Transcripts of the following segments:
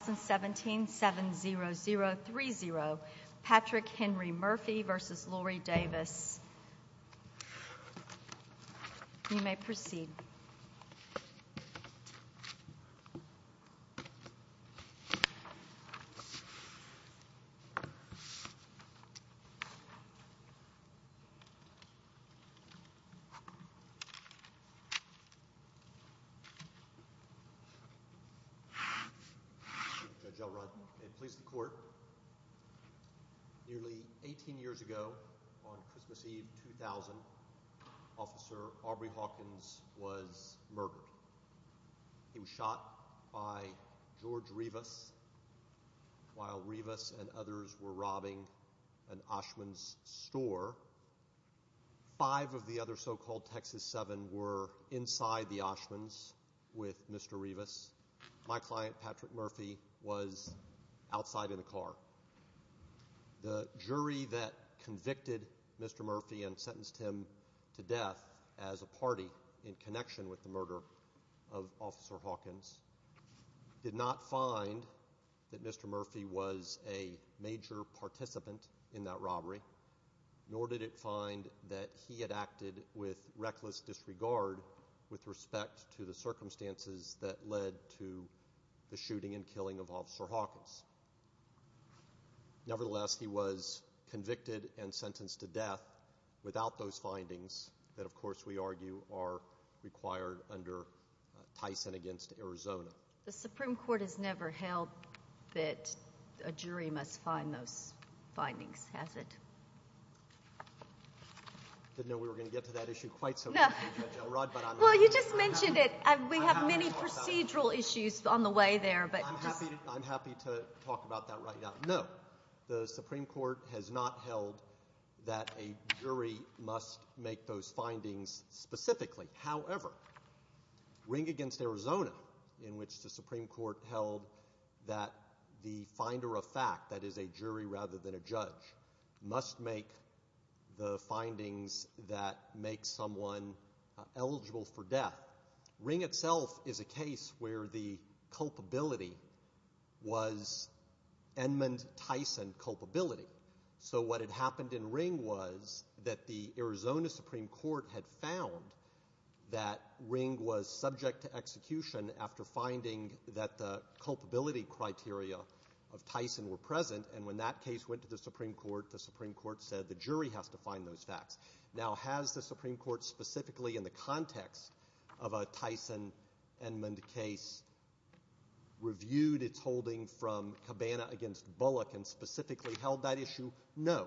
2017 7 0 0 3 0 Patrick Henry Murphy versus Lorie Davis you may proceed to the court. Nearly 18 years ago on Christmas Eve 2000 officer Aubrey Hawkins was murdered. He was shot by George Rivas while Rivas and others were robbing an Oshman's store. Five of the other so-called Texas 7 were inside the Oshman's with Mr. Rivas. My client Patrick Murphy was outside in the car. The jury that convicted Mr. Murphy and sentenced him to death as a party in connection with the murder of officer Hawkins did not find that Mr. Murphy was a major participant in that robbery nor did it find that he had acted with reckless disregard with respect to the circumstances that led to the shooting and killing of officer Hawkins. Nevertheless he was convicted and sentenced to death without those findings that of course we argue are required under Tyson against Arizona. The Supreme Court has never held that a jury must find those findings. Has it? I didn't know we were going to get to that issue quite so well. You just mentioned it. We have many procedural issues on the way there. I'm happy to talk about that right now. No the Supreme Court has not held that a jury must make those findings specifically. However ring against Arizona in which the court that the finder of fact that is a jury rather than a judge must make the findings that make someone eligible for death. Ring itself is a case where the culpability was Edmund Tyson culpability. So what had happened in ring was that the Arizona Supreme Court had found that ring was subject to execution after finding that the culpability criteria of Tyson were present and when that case went to the Supreme Court the Supreme Court said the jury has to find those facts. Now has the Supreme Court specifically in the context of a Tyson and when the case reviewed its holding from Cabana against Bullock and specifically held that issue? No.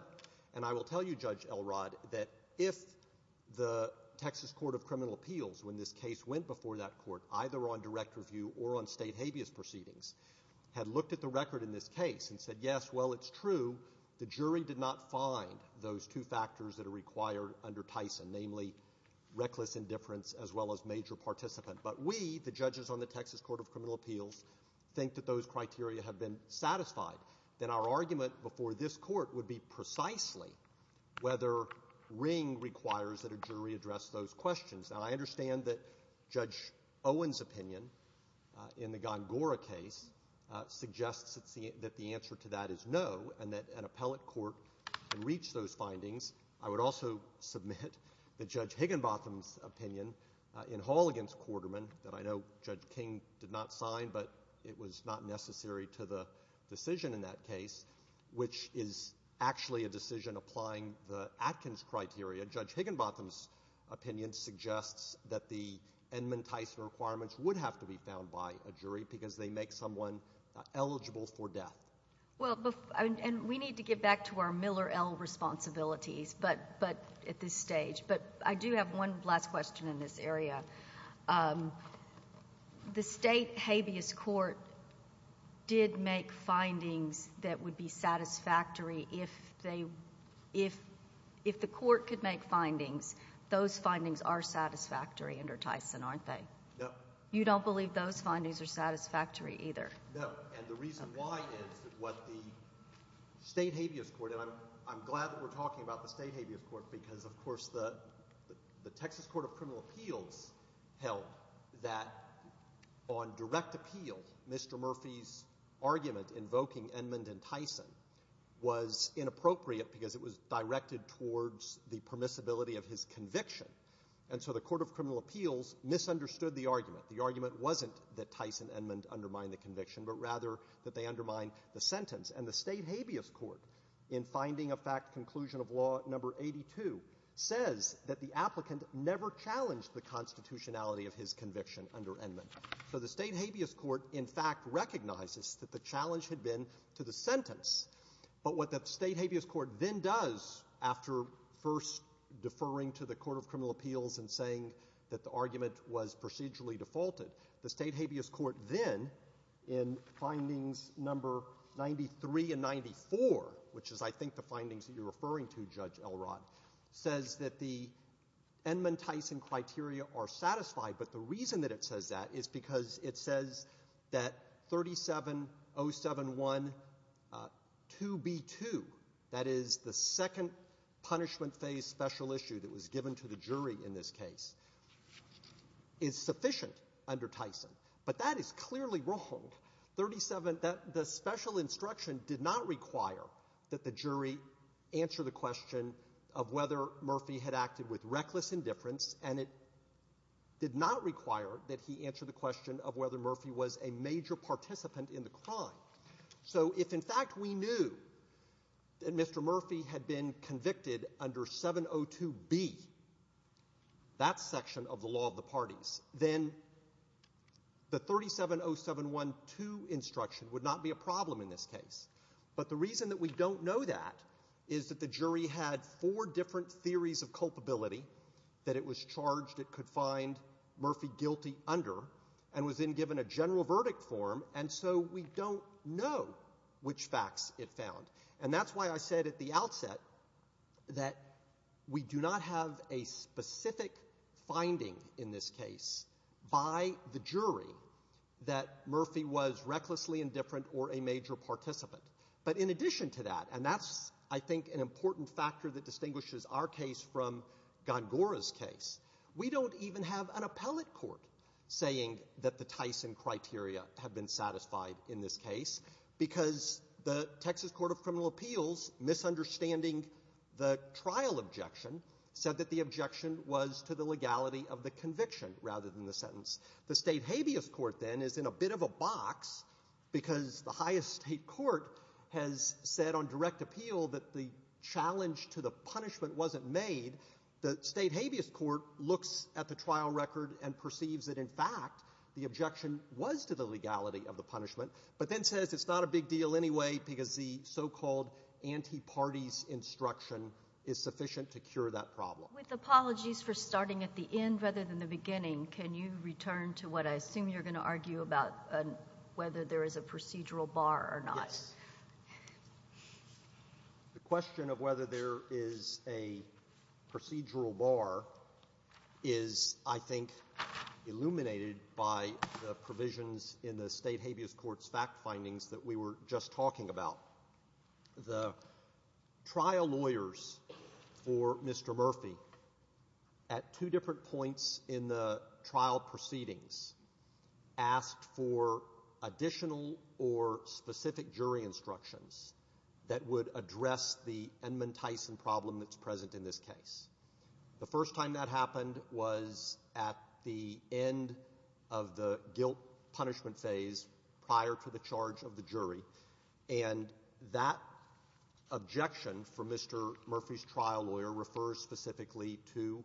And I will tell you Judge Elrod that if the Texas Court of Criminal Appeals when this case went before that court either on direct review or on state habeas proceedings had looked at the record in this case and said yes well it's true the jury did not find those two factors that are required under Tyson namely reckless indifference as well as major participant. But we the judges on the Texas Court of Criminal Appeals think that those criteria have been satisfied. Then our argument before this court would be precisely whether ring requires that a jury address those questions. Now I understand that Judge Owen's opinion in the Gongora case suggests that the answer to that is no and that an appellate court can reach those findings. I would also submit that Judge Higginbotham's opinion in Hall against Quarterman that I know Judge King did not sign but it was not necessary to the decision in that case which is actually a decision applying the Atkins criteria. Judge Higginbotham's opinion suggests that the Edmund Tyson requirements would have to be found by a jury because they make someone eligible for death. Well and we need to get back to our Miller L responsibilities but but at this stage. But I do have one last question in this area. The state habeas court did make findings that would be satisfactory if they if if the court could make findings those findings are satisfactory under Tyson aren't they? No. You don't believe those findings are satisfactory either? No and the reason why is that what the state habeas court and I'm I'm glad that we're talking about the Texas Court of Criminal Appeals held that on direct appeal Mr. Murphy's argument invoking Edmund and Tyson was inappropriate because it was directed towards the permissibility of his conviction and so the Court of Criminal Appeals misunderstood the argument. The argument wasn't that Tyson and Edmund undermined the conviction but rather that they undermined the sentence and the state habeas court in finding a fact conclusion of law number eighty two says that the applicant never challenged the constitutionality of his conviction under Edmund. So the state habeas court in fact recognizes that the challenge had been to the sentence but what the state habeas court then does after first deferring to the Court of Criminal Appeals and saying that the argument was procedurally defaulted the state habeas court then in findings number ninety three and ninety four which is I think the findings that you're referring to Judge Elrod says that the Edmund Tyson criteria are satisfied but the reason that it says that is because it says that thirty seven oh seven one two B two that is the second punishment phase special issue that was given to the jury in this case is sufficient under Tyson but that is clearly wrong thirty seven that the special instruction did not require that the jury answer the question of whether Murphy had acted with reckless indifference and it did not require that he answer the question of whether Murphy was a major participant in the crime. So if in fact we knew that Mr. Murphy had been convicted under seven oh two B that section of the law of the parties then the thirty seven oh seven one two instruction would not be a problem in this case but the reason that we don't know that is that the jury had four different theories of culpability that it was charged it could find Murphy guilty under and was in given a general verdict form and so we don't know which facts it found and that's why I said at the outset that we the jury that Murphy was recklessly indifferent or a major participant but in addition to that and that's I think an important factor that distinguishes our case from gone Gora's case we don't even have an appellate court saying that the Tyson criteria have been satisfied in this case because the Texas Court of Criminal Appeals misunderstanding the trial objection said that the objection was to the legality of the conviction rather than the sentence the state habeas court then is in a bit of a box because the highest state court has said on direct appeal that the challenge to the punishment wasn't made the state habeas court looks at the trial record and perceives that in fact the objection was to the legality of the punishment but then says it's not a big deal anyway because the so-called anti parties instruction is sufficient to cure that problem with apologies for starting at the end rather than the beginning can you return to what I assume you're going to argue about whether there is a procedural bar or not the question of whether there is a procedural bar is I think illuminated by the provisions in the state habeas courts fact findings that we were just talking about the trial lawyers for Mr. Murphy at two different points in the trial proceedings asked for additional or specific jury instructions that would address the endman Tyson problem that's present in this case the first time that happened was at the end of the guilt punishment phase prior to the charge of the jury and that objection for Mr. Murphy's trial lawyer refers specifically to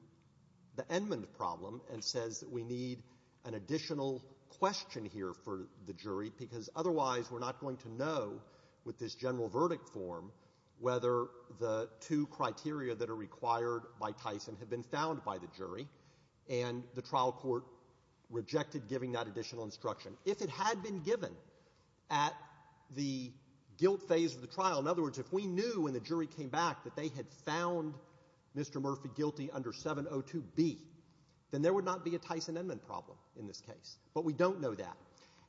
the endman problem and says that we need an additional question here for the jury because otherwise we're not going to know with this general verdict form whether the two criteria that are required by Tyson have been found by the jury and the if it had been given at the guilt phase of the trial in other words if we knew when the jury came back that they had found Mr. Murphy guilty under 702B then there would not be a Tyson endman problem in this case but we don't know that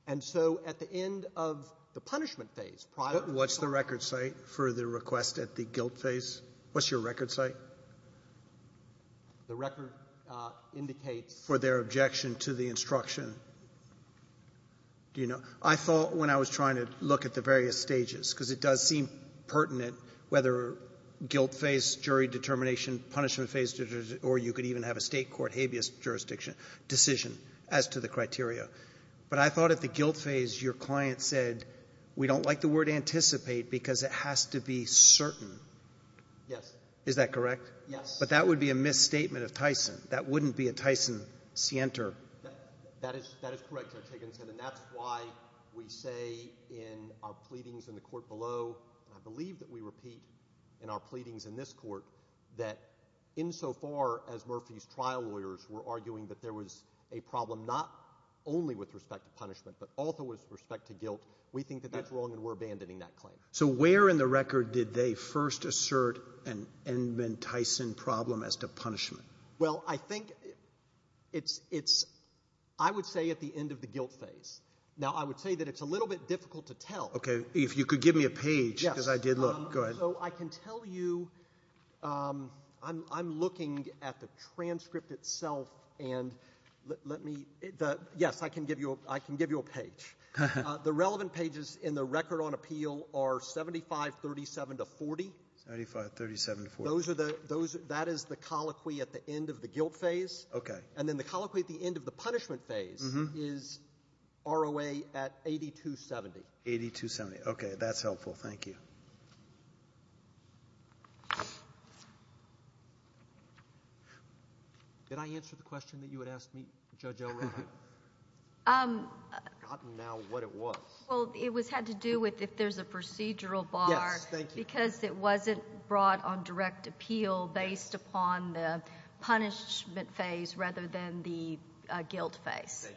and so at the end of the punishment phase prior to the record site for the request at the guilt phase what's your record site the record indicates for their objection to the instruction you know I thought when I was trying to look at the various stages because it does seem pertinent whether guilt phase jury determination punishment phase or you could even have a state court habeas jurisdiction decision as to the criteria but I thought at the guilt phase your client said we don't like the word anticipate because it has to be certain yes is that correct yes but that would be a misstatement of Tyson that wouldn't be a that is correct and that's why we say in our pleadings in the court below I believe that we repeat in our pleadings in this court that in so far as Murphy's trial lawyers were arguing that there was a problem not only with respect to punishment but also with respect to guilt we think that that's wrong and we're abandoning that claim so where in the record did they first assert an endman Tyson problem as to punishment well I think it's it's I would say at the end of the guilt phase now I would say that it's a little bit difficult to tell okay if you could give me a page as I did look good so I can tell you I'm I'm looking at the transcript itself and let me the yes I can give you I can give you a page the relevant pages in the record on appeal are 75 37 to 40 35 37 for those are the those that is the colloquy at the end of the guilt phase okay and then the colloquy at the end of the punishment phase is ROA at 82 70 82 70 okay that's helpful thank you did I answer the question that you would ask me judge um now what it was well it was had to do with if there's a procedural bar thank you because it wasn't brought on direct appeal based upon the punishment phase rather than the guilt phase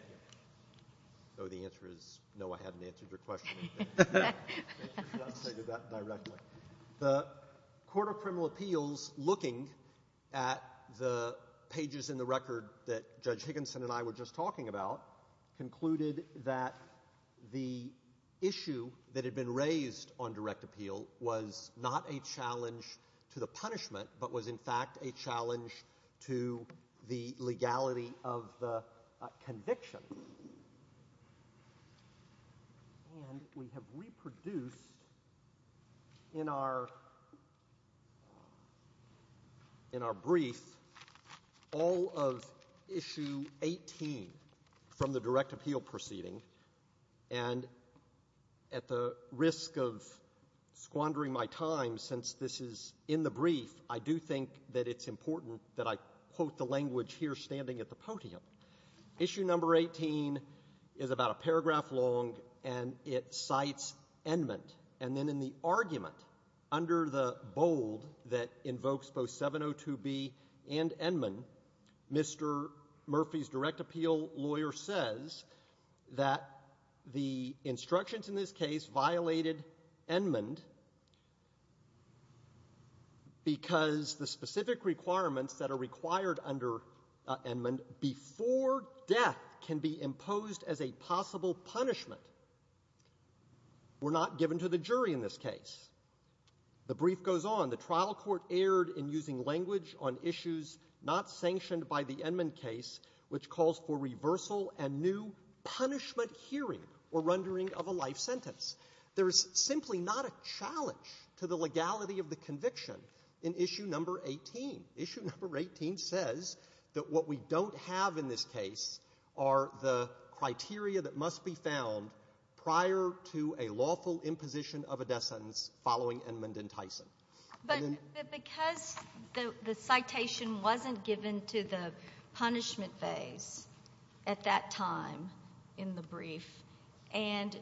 so the answer is no I hadn't answered your question the court of criminal appeals looking at the pages in the record that judge Higginson and I were just talking about concluded that the issue that had been was in fact a challenge to the legality of the conviction and we have reproduced in our in our brief all of issue 18 from the direct appeal proceeding and at the risk of squandering my time since this is in the brief I do think that it's important that I quote the language here standing at the podium issue number 18 is about a paragraph long and it cites and meant and then in the argument under the bold that invokes both 702 B and Edmund Mr. Murphy's because the specific requirements that are required under Edmund before death can be imposed as a possible punishment we're not given to the jury in this case the brief goes on the trial court aired in using language on issues not sanctioned by the Edmund case which calls for reversal and new punishment hearing or rendering of a life sentence there is simply not a challenge to the legality of the conviction in issue number 18 issue number 18 says that what we don't have in this case are the criteria that must be found prior to a lawful imposition of a death sentence following Edmund and Tyson but because the citation wasn't given to the punishment phase at that time in the brief and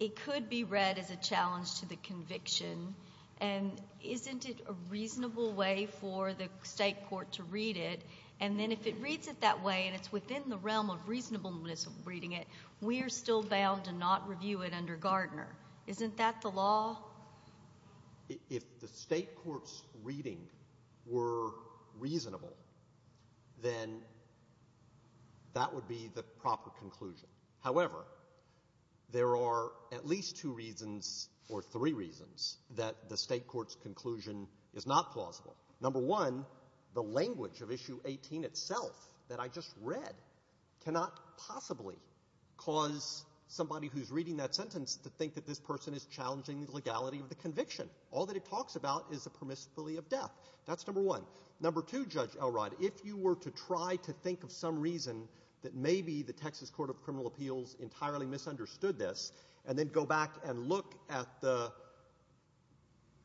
it could be read as a challenge to the conviction and isn't it a reasonable way for the state court to read it and then if it reads it that way and it's within the realm of reasonableness of reading it we are still bound to not review it under Gardner isn't that the law if the state courts reading were reasonable then that would be the proper conclusion however there are at least two reasons or three reasons that the state courts conclusion is not plausible number one the language of issue 18 itself that I just read cannot possibly cause somebody who's reading that sentence to think that this person is challenging the legality of the conviction all that it talks about is a permissibility of death that's number one number two judge Elrod if you were to try to think of some reason that maybe the Texas Court of Criminal Appeals entirely misunderstood this and then go back and look at the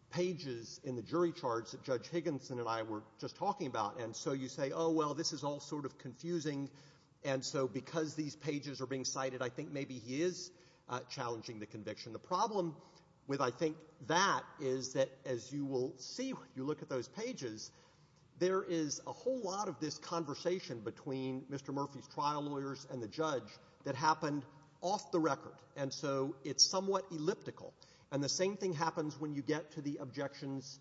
pages in the jury charge that Judge Higginson and I were just talking about and so you say oh well this is all sort of confusing and so because these pages are being cited I think maybe he is challenging the conviction the problem with I think that is that as you will see when you look at those pages there is a whole lot of this conversation between Mr. Murphy's trial lawyers and the judge that happened off the record and so it's somewhat illiberal to say that this is a elliptical and the same thing happens when you get to the objections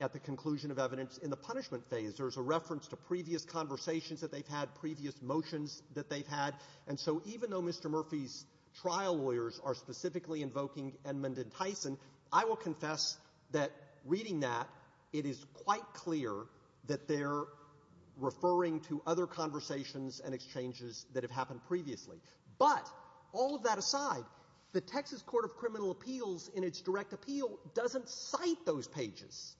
at the conclusion of evidence in the punishment phase there's a reference to previous conversations that they've had previous motions that they've had and so even though Mr. Murphy's trial lawyers are specifically invoking Edmund and Tyson I will confess that reading that it is quite clear that they're referring to other conversations and exchanges that have happened previously but all of that aside the Texas Court of Criminal Appeals in its direct appeal doesn't cite those pages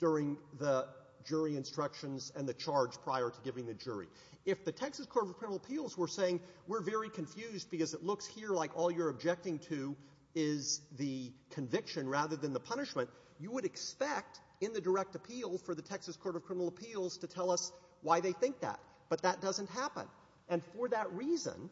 during the jury instructions and the charge prior to giving the jury if the Texas Court of Criminal Appeals were saying we're very confused because it looks here like all you're objecting to is the conviction rather than the punishment you would expect in the direct appeal for the Texas Court of Criminal Appeals to tell us why they think that but that doesn't happen and for that reason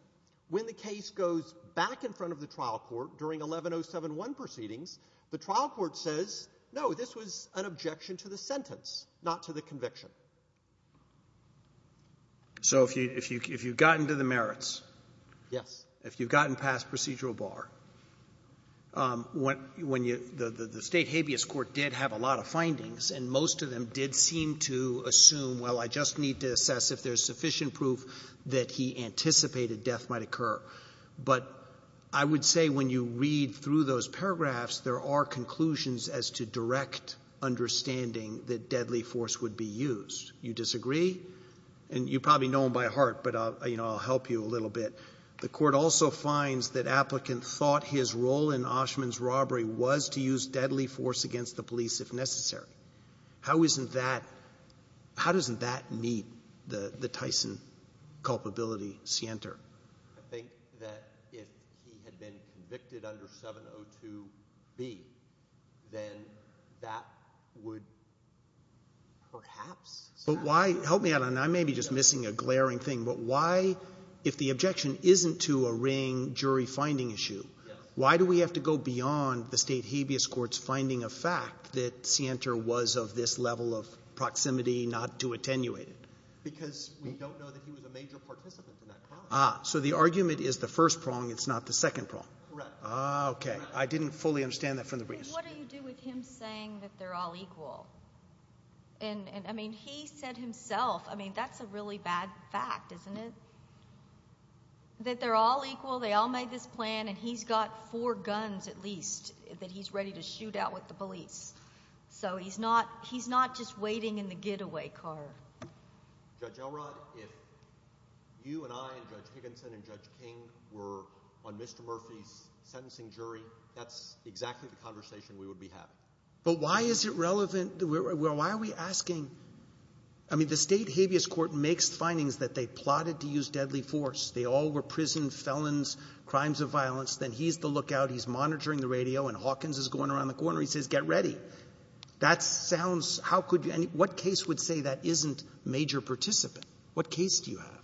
when the case goes back in front of the trial court during 11071 proceedings the trial court says no this was an objection to the sentence not to the conviction so if you if you if you've gotten to the merits yes if you've gotten past procedural bar what when you the the state habeas court did have a lot of findings and most of them did seem to assume well I just need to assess if there's sufficient proof that he anticipated death might occur but I would say when you read through those pages and those paragraphs there are conclusions as to direct understanding that deadly force would be used you disagree and you probably know him by heart but I'll you know I'll help you a little bit the court also finds that applicant thought his role in Oshman's robbery was to use deadly force against the police if necessary how isn't that how doesn't that meet the the Tyson culpability scienter I think that if he had been convicted under 702 B then that would perhaps but why help me out and I may be just missing a glaring thing but why if the objection isn't to a ring jury finding issue why do we have to go beyond the state habeas courts finding a fact that scienter was of this level of proximity not to attenuate it because we don't know that he was a major participant in that problem so the argument is the first prong it's not the second prong okay I didn't fully understand that from the briefs I agree with him saying that they're all equal and I mean he said himself I mean that's a really bad fact isn't it that they're all equal they all made this plan and he's got four guns at least that he's ready to shoot out with the police so he's not he's not just waiting in the getaway car Judge Elrod if you and I and Judge Higginson and Judge King were on Mr. Murphy's sentencing jury that's exactly the conversation we would be having but why is it relevant why are we asking I mean the state habeas court makes findings that they plotted to use deadly force they all were prison felons crimes of violence then he's the lookout he's monitoring the radio and Hawkins is going around the corner he says get ready that sounds how could any what case would say that isn't major participant what case do you have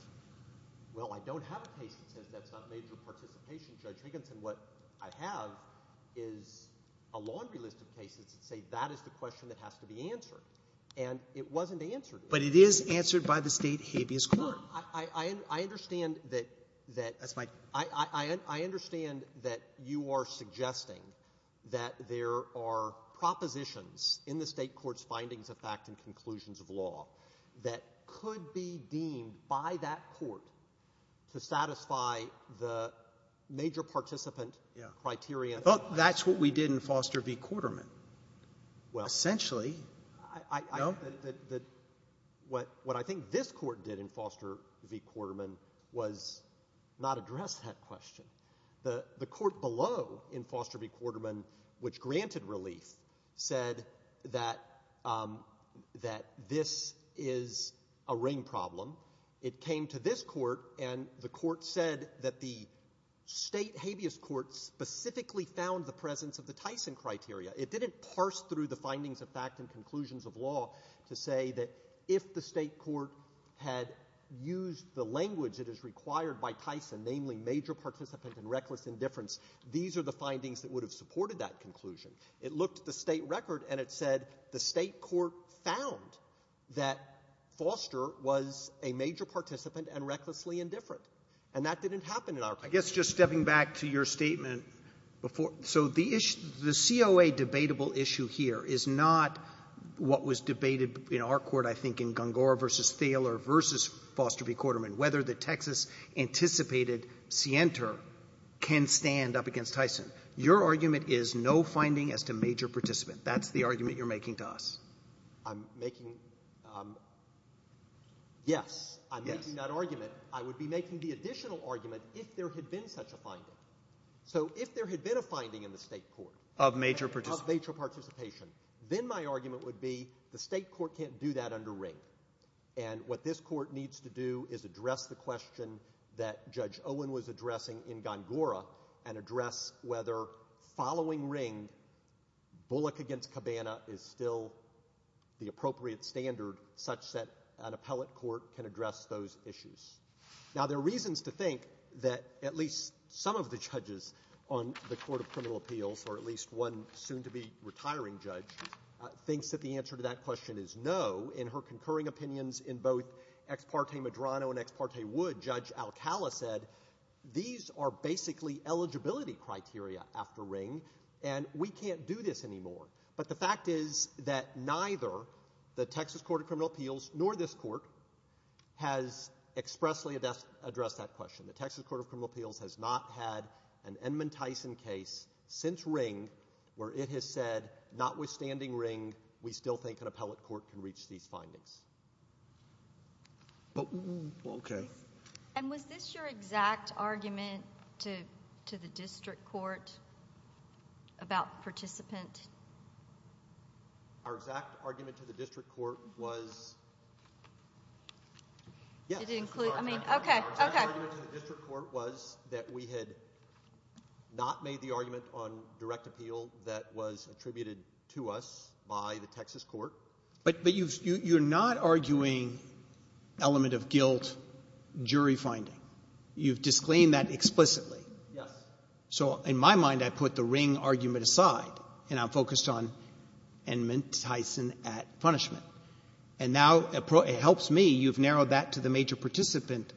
well I don't have a case that says that's not major participation Judge Higginson what I have is a laundry list of cases that say that is the question that has to be answered and it wasn't answered but it is answered by the state habeas court I understand that you are suggesting that there are propositions in the state courts findings of fact and conclusions of law that could be deemed by that court to satisfy the major participant criteria that's what we did in Foster v. Quarterman essentially what I think this court did in Foster v. Quarterman was not address that question the court below in Foster v. Quarterman which granted relief said that this is a ring problem it came to this court and the court said that the state habeas court specifically found the presence of the Tyson criteria it didn't parse through the findings of fact and conclusions of law to say that if the state court had used the language that is required by Tyson namely major participant and reckless indifference these are the findings that would have supported that conclusion it looked at the state record and it said the state court found that Foster was a major participant and recklessly indifferent and that didn't happen in our case I guess just stepping back to your statement so the COA debatable issue here is not what was debated in our court I think in Gungor v. Thaler v. Foster v. Quarterman whether the Texas anticipated scienter can stand up against Tyson your argument is no finding as to major participant that's the argument you are making to us I'm making yes I'm making that argument I would be making the additional argument if there had been such a finding so if there had been a finding in the state court of major participation then my argument would be the state court can't do that under ring and what this court needs to do is address the question that judge Owen was addressing in Gungor and address whether following ring Bullock against Cabana is still the appropriate standard such that an appellate court can address those issues now there are reasons to think that at least some of the judges on the court of criminal appeals or at least one soon to be retiring judge thinks that the answer to that question is no in her concurring opinions in both ex parte Medrano and ex parte Wood judge Alcala said these are basically eligibility criteria after ring and we can't do this anymore but the fact is that neither the Texas court of criminal appeals nor this court has expressly addressed that question the Texas court of criminal appeals has not had an Edmund Tyson case since ring where it has said notwithstanding ring we still think an appellate court can reach these findings and was this your exact argument to the district court about participant our exact argument to the district court was that we had not made the argument on direct appeal that was attributed to us by the Texas court but you're not arguing element of guilt jury finding you've disclaimed that explicitly so in my mind I put the ring argument aside and I'm focused on Edmund Tyson at punishment and now it helps me you've narrowed that to the major participant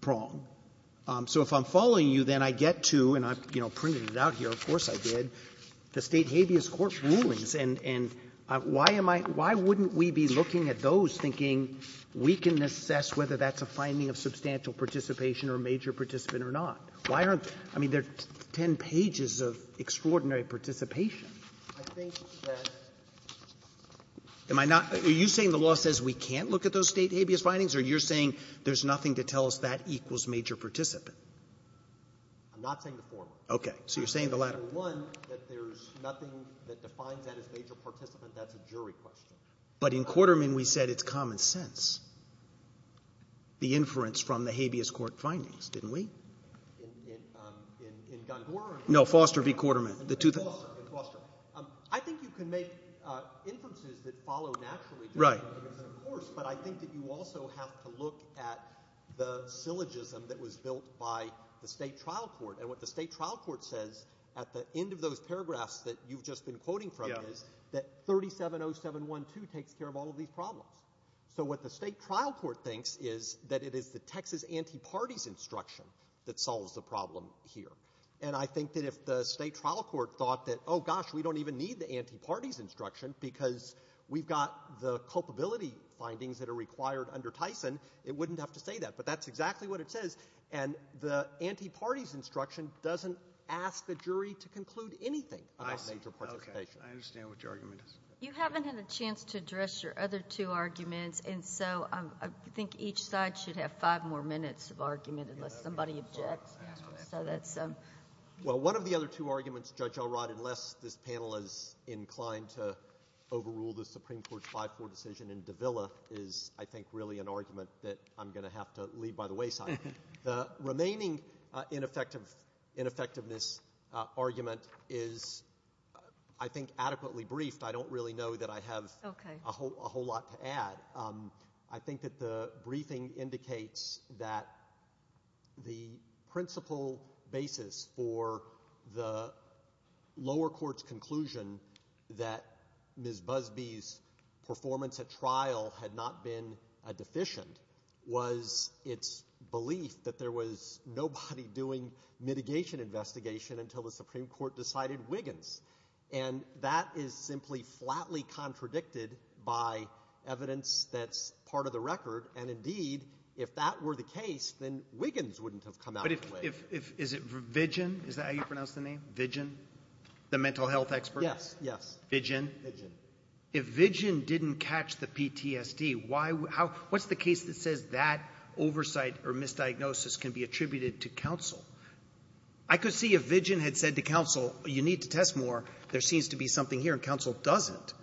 prong so if I'm following you then I get to and I've you know printed it out here of course I did the state habeas court rulings and and why am I why wouldn't we be looking at those thinking we can assess whether that's a finding of substantial participation or major participant or not why aren't I mean there's 10 pages of extraordinary participation am I not you saying the law says we can't look at those state habeas findings or you're saying there's nothing to tell us that equals major participant but in quarter mean we said it's common sense the inference from the habeas court findings didn't we know Foster v. quarterman I think you can make inferences that follow naturally but I think you also have to look at the syllogism that was built by the state trial court and what the state trial court says at the end of those paragraphs that you've just been quoting from is that 370712 takes care of all of these problems so what the state trial court thinks is that it is the Texas anti-parties instruction that solves the problem here and I think that if the state trial court thought that oh gosh we don't even need the anti-parties instruction because we've got the culpability findings that are required under Tyson it wouldn't have to say that but that's exactly what it says and the anti-parties instruction doesn't ask the jury to conclude anything you haven't had a chance to address your other two arguments and so I think each side should have five more minutes of argument unless somebody objects well one of the other two arguments Judge Elrod unless this panel is inclined to overrule the Supreme Court's 5-4 decision in Davila is I think really an argument that I'm going to have to leave by the wayside the remaining ineffectiveness argument is I think adequately briefed I don't really know that I have a whole lot to add I think that the briefing indicates that the principle basis for the lower court's conclusion that Ms. Busby's performance at trial had not been deficient was its belief that there was nobody doing mitigation investigation until the Supreme Court decided Wiggins and that is simply flatly contradicted by evidence that's part of the record and indeed if that were the case then Wiggins wouldn't have come out of the way there seems to be something here and counsel doesn't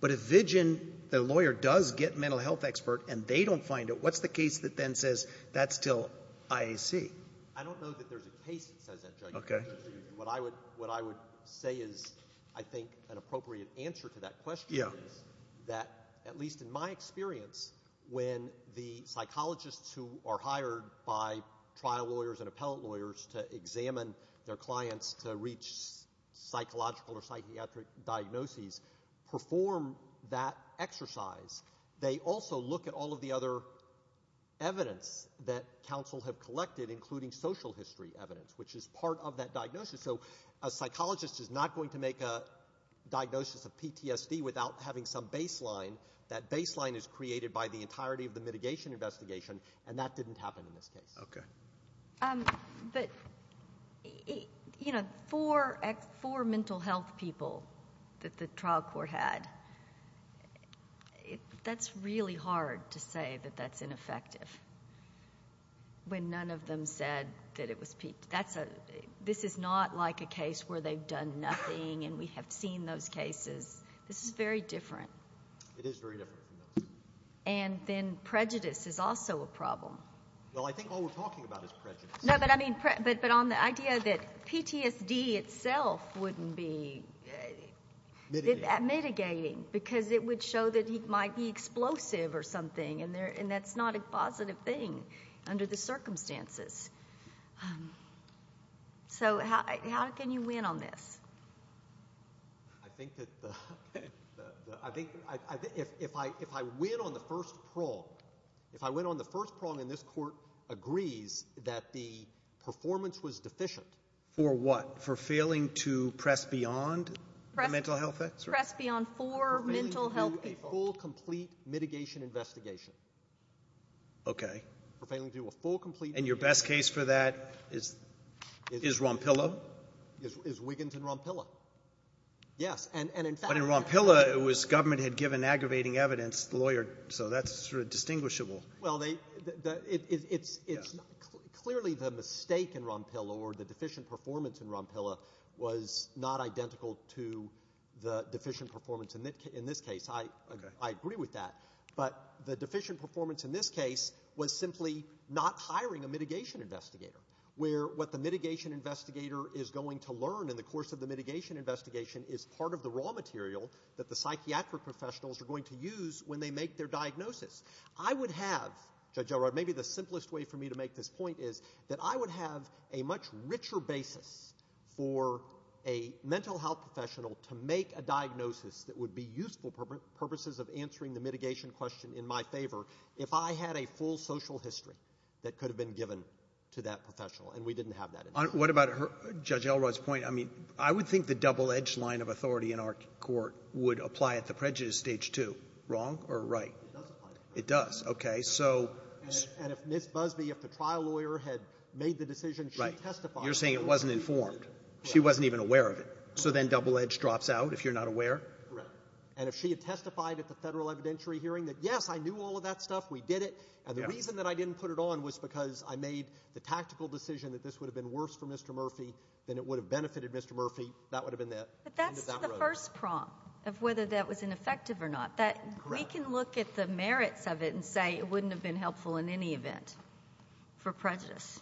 but if Wiggins the lawyer does get mental health expert and they don't find it what's the case that then says that's still IAC I don't know that there's a case that says that Judge what I would say is I think an appropriate answer to that question is that at least in my experience when the psychologists who are hired by trial lawyers and appellate lawyers to examine their clients to reach psychological or psychiatric diagnoses perform that exercise they also look at all of the other evidence that counsel have collected including social history evidence which is part of that diagnosis so a psychologist is not going to make a diagnosis of PTSD without having some baseline that baseline is created by the entirety of the mitigation investigation and that didn't happen in this case but you know for mental health people that the trial court had that's really hard to say that that's ineffective when none of them said that this is not like a case where they've done nothing and we have seen those cases this is very different and then prejudice is also a problem well I think all we're talking about is prejudice no but I mean but but on the idea that PTSD itself wouldn't be mitigating because it would show that he might be explosive or something and there and that's not a positive thing under the circumstances so how can you win on this I think that the I think if I if I win on the first prong if I win on the first prong in this court agrees that the performance was deficient for what for failing to press beyond mental health press beyond for mental health people a full complete mitigation investigation okay for failing to do a full complete and your best case for that is is Rompilla is Wiggins and Rompilla yes and and in fact but in Rompilla it was government had given aggravating evidence lawyer so that's sort of distinguishable well they it's it's clearly the mistake in Rompilla or the deficient performance in Rompilla was not identical to the deficient performance in this case I agree with that but the deficient performance in this case was simply not hiring a mitigation investigator where what the mitigation investigator is going to learn in the course of the mitigation investigation is part of the raw material that the psychiatric professionals are going to use when they make their diagnosis I would have judge Elrod maybe the simplest way for me to make this point is that I would have a much richer basis for a mental health professional to make a diagnosis that would be useful purposes of answering the mitigation question in my favor if I had a full social history that could have been given to that professional and we didn't have that what about her judge Elrod's point I mean I would think the double-edged line of authority in our court would apply at the prejudice stage to wrong or right it does okay so and if Miss Busby if the trial lawyer had made the decision she testified you're saying it wasn't informed she wasn't even aware of it so then double-edged drops out if you're not aware and if she had testified at the federal evidentiary hearing that yes I knew all of that stuff we did it and the reason that I didn't put it on was because I made the tactical decision that this would have been worse for Mr. Murphy than it would have benefited Mr. Murphy that would have been that but that's the first prompt of whether that was ineffective or not that we can look at the merits of it and say it wouldn't have been helpful in any event for prejudice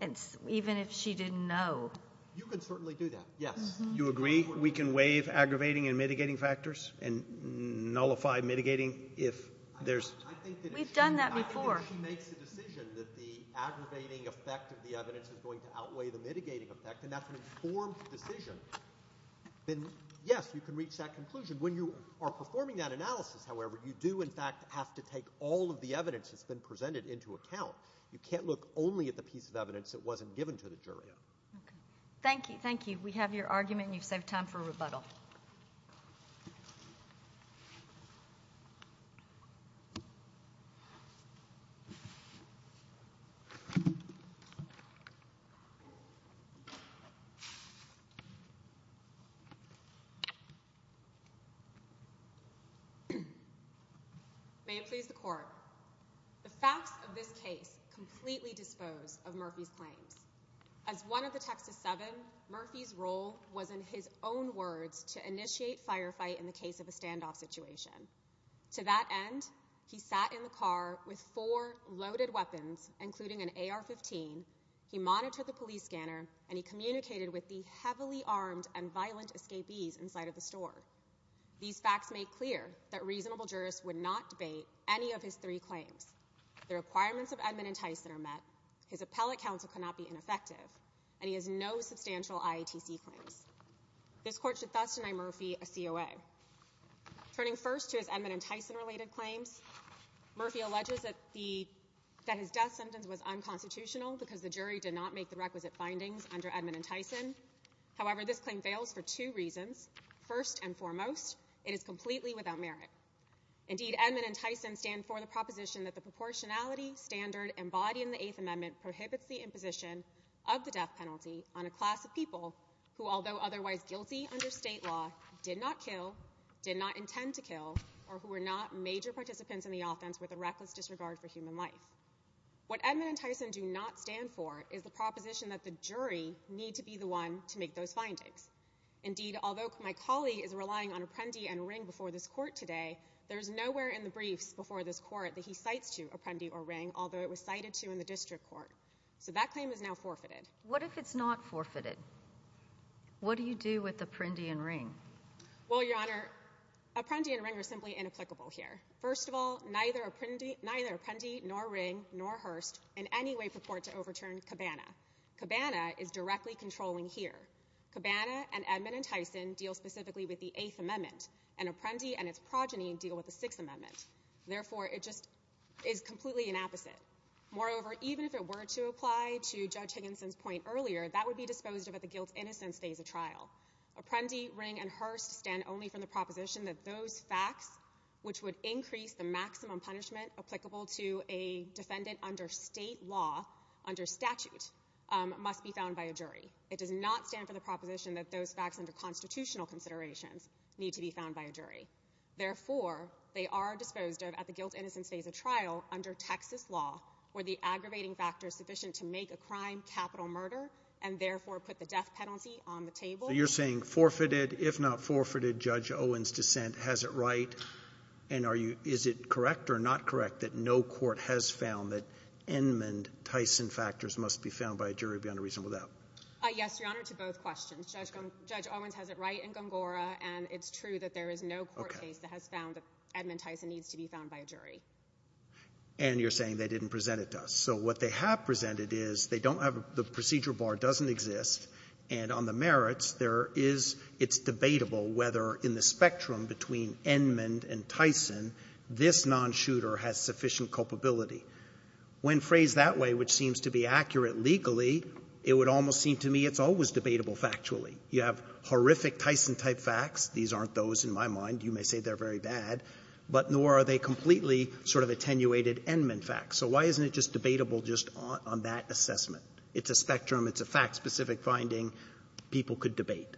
and even if she didn't know you can certainly do that yes you agree we can waive aggravating and mitigating factors and nullify mitigating if there's we've done that before I think if she makes a decision that the aggravating effect of the evidence is going to outweigh the mitigating effect and that's an informed decision then yes you can reach that conclusion when you are performing that analysis however you do in fact have to take all of the evidence that's been presented into account you can't look only at the piece of evidence that wasn't given to the jury thank you thank you we have your argument you save time for rebuttal may it please the court the facts of this case completely dispose of Murphy's claims as one of the Texas 7 Murphy's role was in his own words to initiate firefight in the case of a standoff situation to that end he sat in the car with four loaded weapons including an AR 15 he monitored the police scanner and he communicated with the heavily armed and violent escapees inside of the store these facts make clear that reasonable jurists would not debate any of his three claims the requirements of Edmund and Tyson are met his appellate counsel cannot be ineffective and he has no substantial IATC claims this court should thus deny Murphy a COA turning first to his Edmund and Tyson related claims Murphy alleges that the death sentence was unconstitutional because the jury did not make the requisite findings under Edmund and Tyson however this claim fails for two reasons first and foremost it is completely without merit Edmund and Tyson stand for the proposition that the proportionality standard embodying the eighth amendment prohibits the imposition of the death penalty on a class of people who although otherwise guilty under state law did not kill did not intend to kill or who are not major participants in the offense with a reckless disregard for human life what Edmund and Tyson do not stand for is the proposition that the jury need to be the one to make those findings indeed although my colleague is relying on Apprendi and Ring before this court today there is nowhere in the briefs before this court that he cites to Apprendi or Ring although it was cited to in the district court so that claim is now forfeited what if it's not forfeited what do you do with Apprendi and Ring? that would be disposed of at the guilt innocence phase of trial Apprendi, Ring and Hurst stand only for the proposition that those facts which would increase the maximum punishment applicable to a defendant under state law under statute must be found by a jury it does not stand for the proposition that those facts under constitutional considerations need to be found by a jury therefore they are disposed of at the guilt innocence phase of trial under Texas law where the aggravating factors sufficient to make a crime capital murder and therefore put the death penalty on the table so you're saying forfeited if not forfeited Judge Owens dissent has it right and is it correct or not correct that no court has found that Edmund Tyson factors must be found by a jury beyond a reasonable doubt yes your honor to both questions Judge Owens has it right in Gongora and it's true that there is no court case that has found that Edmund Tyson needs to be found by a jury and you're saying they didn't present it to us so what they have presented is they don't have the procedure bar doesn't exist and on the merits there is it's debatable whether in the spectrum between Edmund and Tyson this non-shooter has sufficient culpability when phrased that way which seems to be accurate legally it would almost seem to me it's always debatable factually you have horrific Tyson type facts these aren't those in my mind you may say they're very bad but nor are they completely sort of attenuated Edmund facts so why isn't it just debatable just on that assessment it's a spectrum it's a fact specific finding people could debate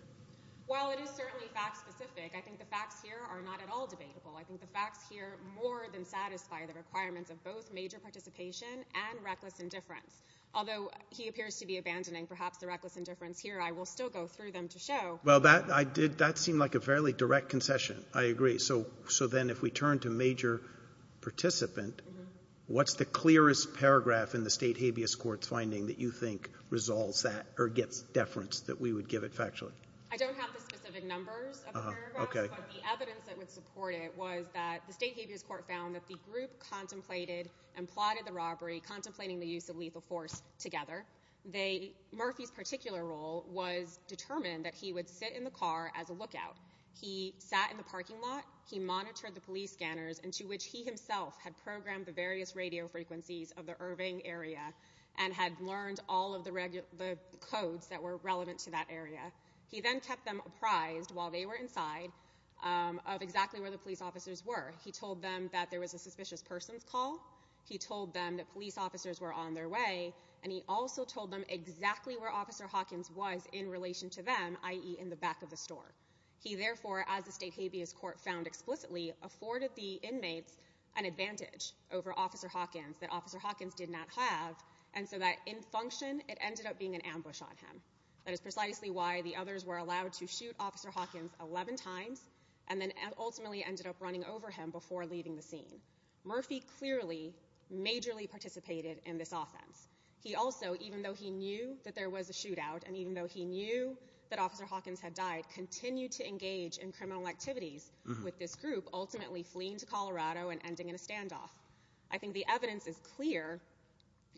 well it is certainly fact specific I think the facts here are not at all debatable I think the facts here more than satisfy the requirements of both major participation and reckless indifference although he appears to be abandoning perhaps the reckless indifference here I will still go through them to show well that I did that seem like a fairly direct concession I agree so so then if we turn to major participant what's the clearest paragraph in the state habeas courts finding that you think resolves that or gets deference that we would give it factually I don't have the specific numbers okay evidence that would support it was that the state habeas court found that the group contemplated and plotted the robbery contemplating the use of lethal force together they Murphy's particular role was determined that he would sit in the car as a lookout he sat in the parking lot he monitored the police scanners and to which he himself had programmed the various radio frequencies of the Irving area and had learned all of the regular the codes that were relevant to that area. He then kept them apprised while they were inside of exactly where the police officers were he told them that there was a suspicious person's call he told them that police officers were on their way and he also told them exactly where officer Hawkins was in relation to them i.e. in the back of the store he therefore as the state habeas court found explicitly afforded the inmates an advantage over officer Hawkins that officer Hawkins did not have and so that in function it ended up being an ambush on him. That is precisely why the others were allowed to shoot officer Hawkins 11 times and then ultimately ended up running over him before leaving the scene Murphy clearly majorly participated in this offense he also even though he knew that there was a shootout and even though he knew that officer Hawkins had died continued to engage in criminal activities with this group ultimately fleeing to Colorado and ending in a standoff. I think the evidence is clear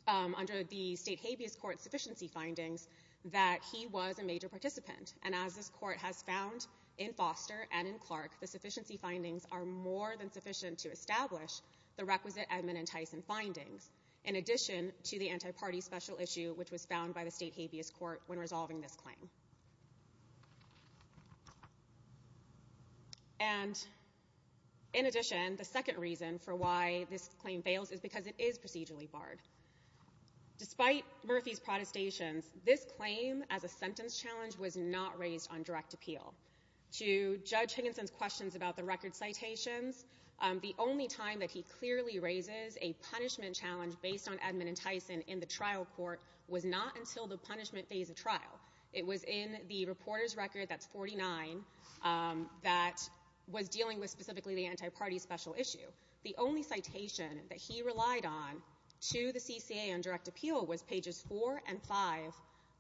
under the state habeas court sufficiency findings that he was a major participant and as this court has found in Foster and Clark the sufficiency findings are more than sufficient to establish the requisite Edmund and Tyson findings in addition to the anti-party special issue which was found by the state habeas court when resolving this claim. And in addition the second reason for why this claim fails is because it is procedurally barred despite Murphy's protestations this claim as a sentence challenge was not raised on direct appeal to judge Higginson's questions about the record citations. The only time that he clearly raises a punishment challenge based on Edmund and Tyson in the trial court was not until the punishment phase of trial it was in the reporter's record that's 49 that was dealing with specifically the anti-party special issue the only citation that he relied on to the CCA on direct appeal was pages 4 and 5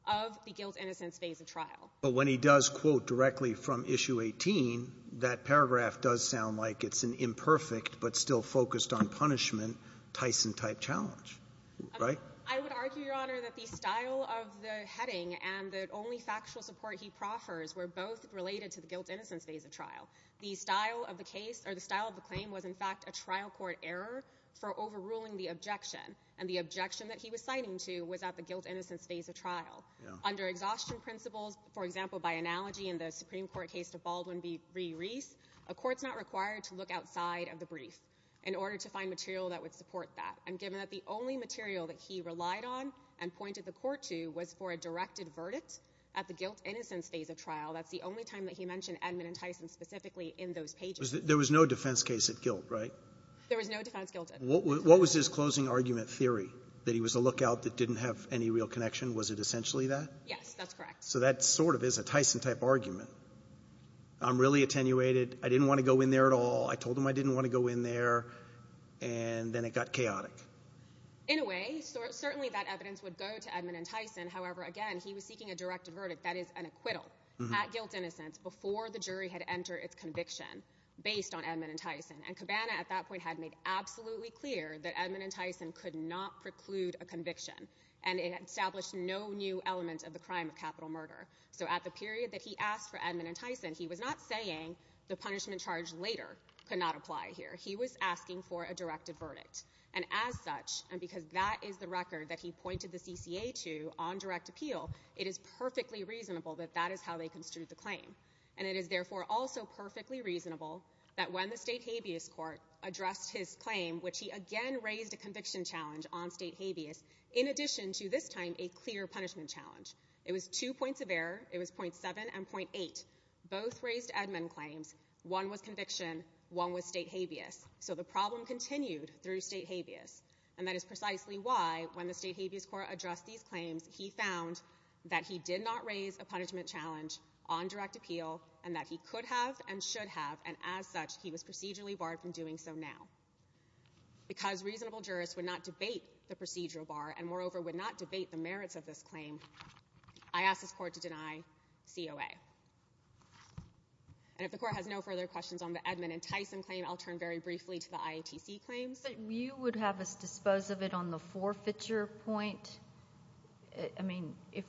of the guilt innocence phase of trial. But when he does quote directly from issue 18 that paragraph does sound like it's an imperfect but still focused on punishment Tyson type challenge. I would argue your honor that the style of the heading and the only factual support he proffers were both related to the guilt innocence phase of trial. The style of the case or the style of the claim was in fact a trial court error for overruling the objection and the objection that he was citing to was at the guilt innocence phase of trial. Under exhaustion principles for example by analogy in the Supreme Court case to Baldwin v. Reese a court's not required to look outside of the brief in order to find material that would support that. And given that the only material that he relied on and pointed the court to was for a directed verdict at the guilt innocence phase of trial that's the only time that he mentioned Edmund and Tyson specifically in those pages. There was no defense case at guilt right? There was no defense guilt. What was his closing argument theory that he was a lookout that didn't have any real connection? Was it essentially that? Yes that's correct. So that sort of is a Tyson type argument. I'm really attenuated. I didn't want to go in there at all. I told him I didn't want to go in there and then it got chaotic. In a way certainly that evidence would go to Edmund and Tyson. However again he was seeking a directed verdict that is an acquittal at guilt innocence before the jury had entered its conviction based on Edmund and Tyson. And Cabana at that point had made absolutely clear that Edmund and Tyson could not preclude a conviction. And it established no new element of the crime of capital murder. So at the period that he asked for Edmund and Tyson he was not saying the punishment charge later could not apply here. He was asking for a directed verdict. And as such and because that is the record that he pointed the CCA to on direct appeal it is perfectly reasonable that that is how they construed the claim. And it is therefore also perfectly reasonable that when the state habeas court addressed his claim which he again raised a conviction challenge on state habeas. In addition to this time a clear punishment challenge. It was two points of error. It was point seven and point eight. Both raised Edmund claims. One was conviction. One was state habeas. So the problem continued through state habeas. And that is precisely why when the state habeas court addressed these claims he found that he did not raise a punishment challenge on direct appeal. And that he could have and should have. And as such he was procedurally barred from doing so now. Because reasonable jurists would not debate the procedural bar and moreover would not debate the merits of this claim. I ask this court to deny COA. And if the court has no further questions on the Edmund and Tyson claim I'll turn very briefly to the IATC claims. Just that you would have us dispose of it on the forfeiture point? I mean, if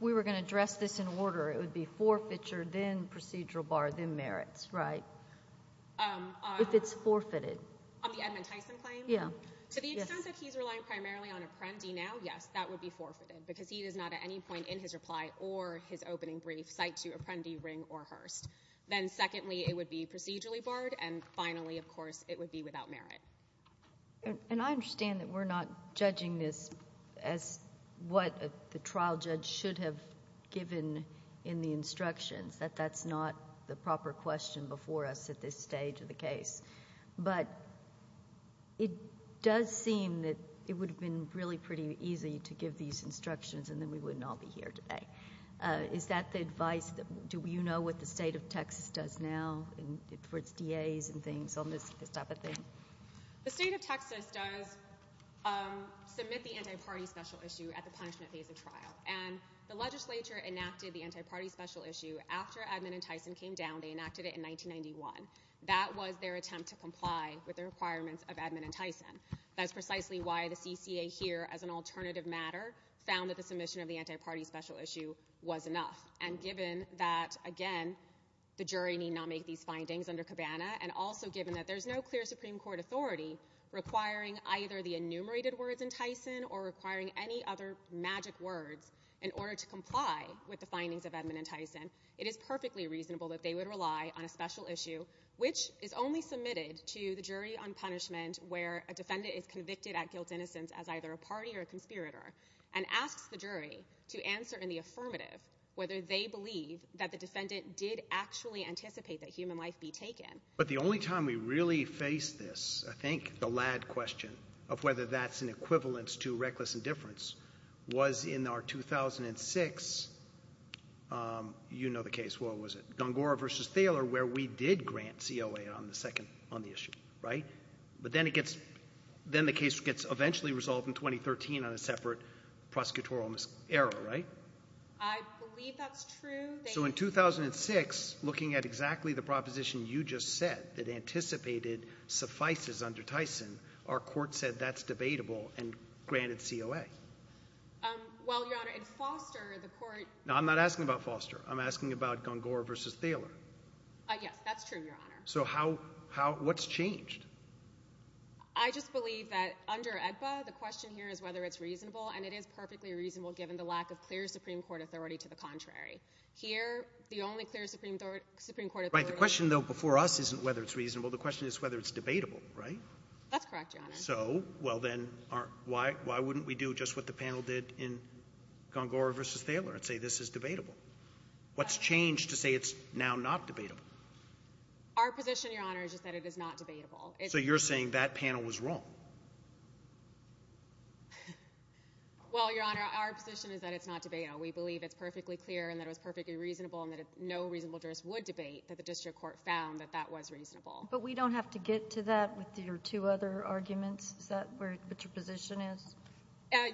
we were going to address this in order it would be forfeiture, then procedural bar, then merits, right? If it's forfeited. On the Edmund Tyson claim? Yeah. To the extent that he's relying primarily on apprendee now, yes, that would be forfeited. Because he does not at any point in his reply or his opening brief cite to apprendee, Ring, or Hurst. Then secondly, it would be procedurally barred. And finally, of course, it would be without merit. And I understand that we're not judging this as what the trial judge should have given in the instructions, that that's not the proper question before us at this stage of the case. But it does seem that it would have been really pretty easy to give these instructions and then we wouldn't all be here today. Is that the advice? Do you know what the state of Texas does now for its DAs and things on this type of thing? The state of Texas does submit the anti-party special issue at the punishment phase of trial. And the legislature enacted the anti-party special issue after Edmund and Tyson came down. They enacted it in 1991. That was their attempt to comply with the requirements of Edmund and Tyson. That's precisely why the CCA here, as an alternative matter, found that the submission of the anti-party special issue was enough. And given that, again, the jury need not make these findings under Cabana, and also given that there's no clear Supreme Court authority requiring either the enumerated words in Tyson or requiring any other magic words in order to comply with the findings of Edmund and Tyson, it is perfectly reasonable that they would rely on a special issue, which is only submitted to the jury on punishment where a defendant is convicted at guilt-innocence as either a party or a conspirator, and asks the jury to answer in the affirmative whether they believe that the defendant did actually anticipate that human life be taken. But the only time we really faced this, I think, the lad question of whether that's an equivalence to reckless indifference, was in our 2006, you know the case, what was it? Gongora v. Thaler, where we did grant COA on the issue, right? But then the case gets eventually resolved in 2013 on a separate prosecutorial error, right? I believe that's true. So in 2006, looking at exactly the proposition you just said, that anticipated suffices under Tyson, our court said that's debatable and granted COA. Well, Your Honor, in Foster, the court— No, I'm not asking about Foster. I'm asking about Gongora v. Thaler. Yes, that's true, Your Honor. So how — what's changed? I just believe that under AEDPA, the question here is whether it's reasonable, and it is perfectly reasonable given the lack of clear Supreme Court authority to the contrary. Here, the only clear Supreme Court authority— Right. The question, though, before us isn't whether it's reasonable. The question is whether it's debatable, right? That's correct, Your Honor. So, well, then, why wouldn't we do just what the panel did in Gongora v. Thaler and say this is debatable? What's changed to say it's now not debatable? Our position, Your Honor, is just that it is not debatable. So you're saying that panel was wrong? Well, Your Honor, our position is that it's not debatable. We believe it's perfectly clear and that it was perfectly reasonable and that no reasonable jurist would debate that the district court found that that was reasonable. But we don't have to get to that with your two other arguments? Is that what your position is?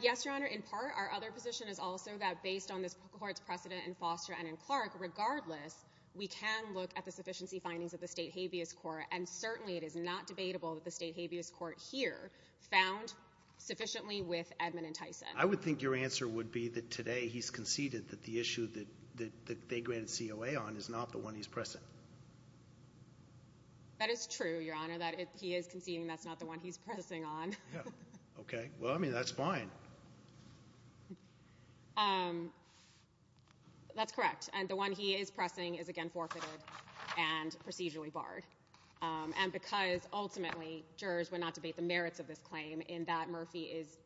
Yes, Your Honor. In part, our other position is also that based on this court's precedent in Foster and in Clark, regardless, we can look at the sufficiency findings of the state habeas court, and certainly it is not debatable that the state habeas court here found sufficiently with Edmund and Tyson. I would think your answer would be that today he's conceded that the issue that they granted COA on is not the one he's pressing. That is true, Your Honor, that he is conceding that's not the one he's pressing on. Okay. Well, I mean, that's fine. That's correct. And the one he is pressing is, again, forfeited and procedurally barred. And because ultimately jurors would not debate the merits of this claim, in that Murphy is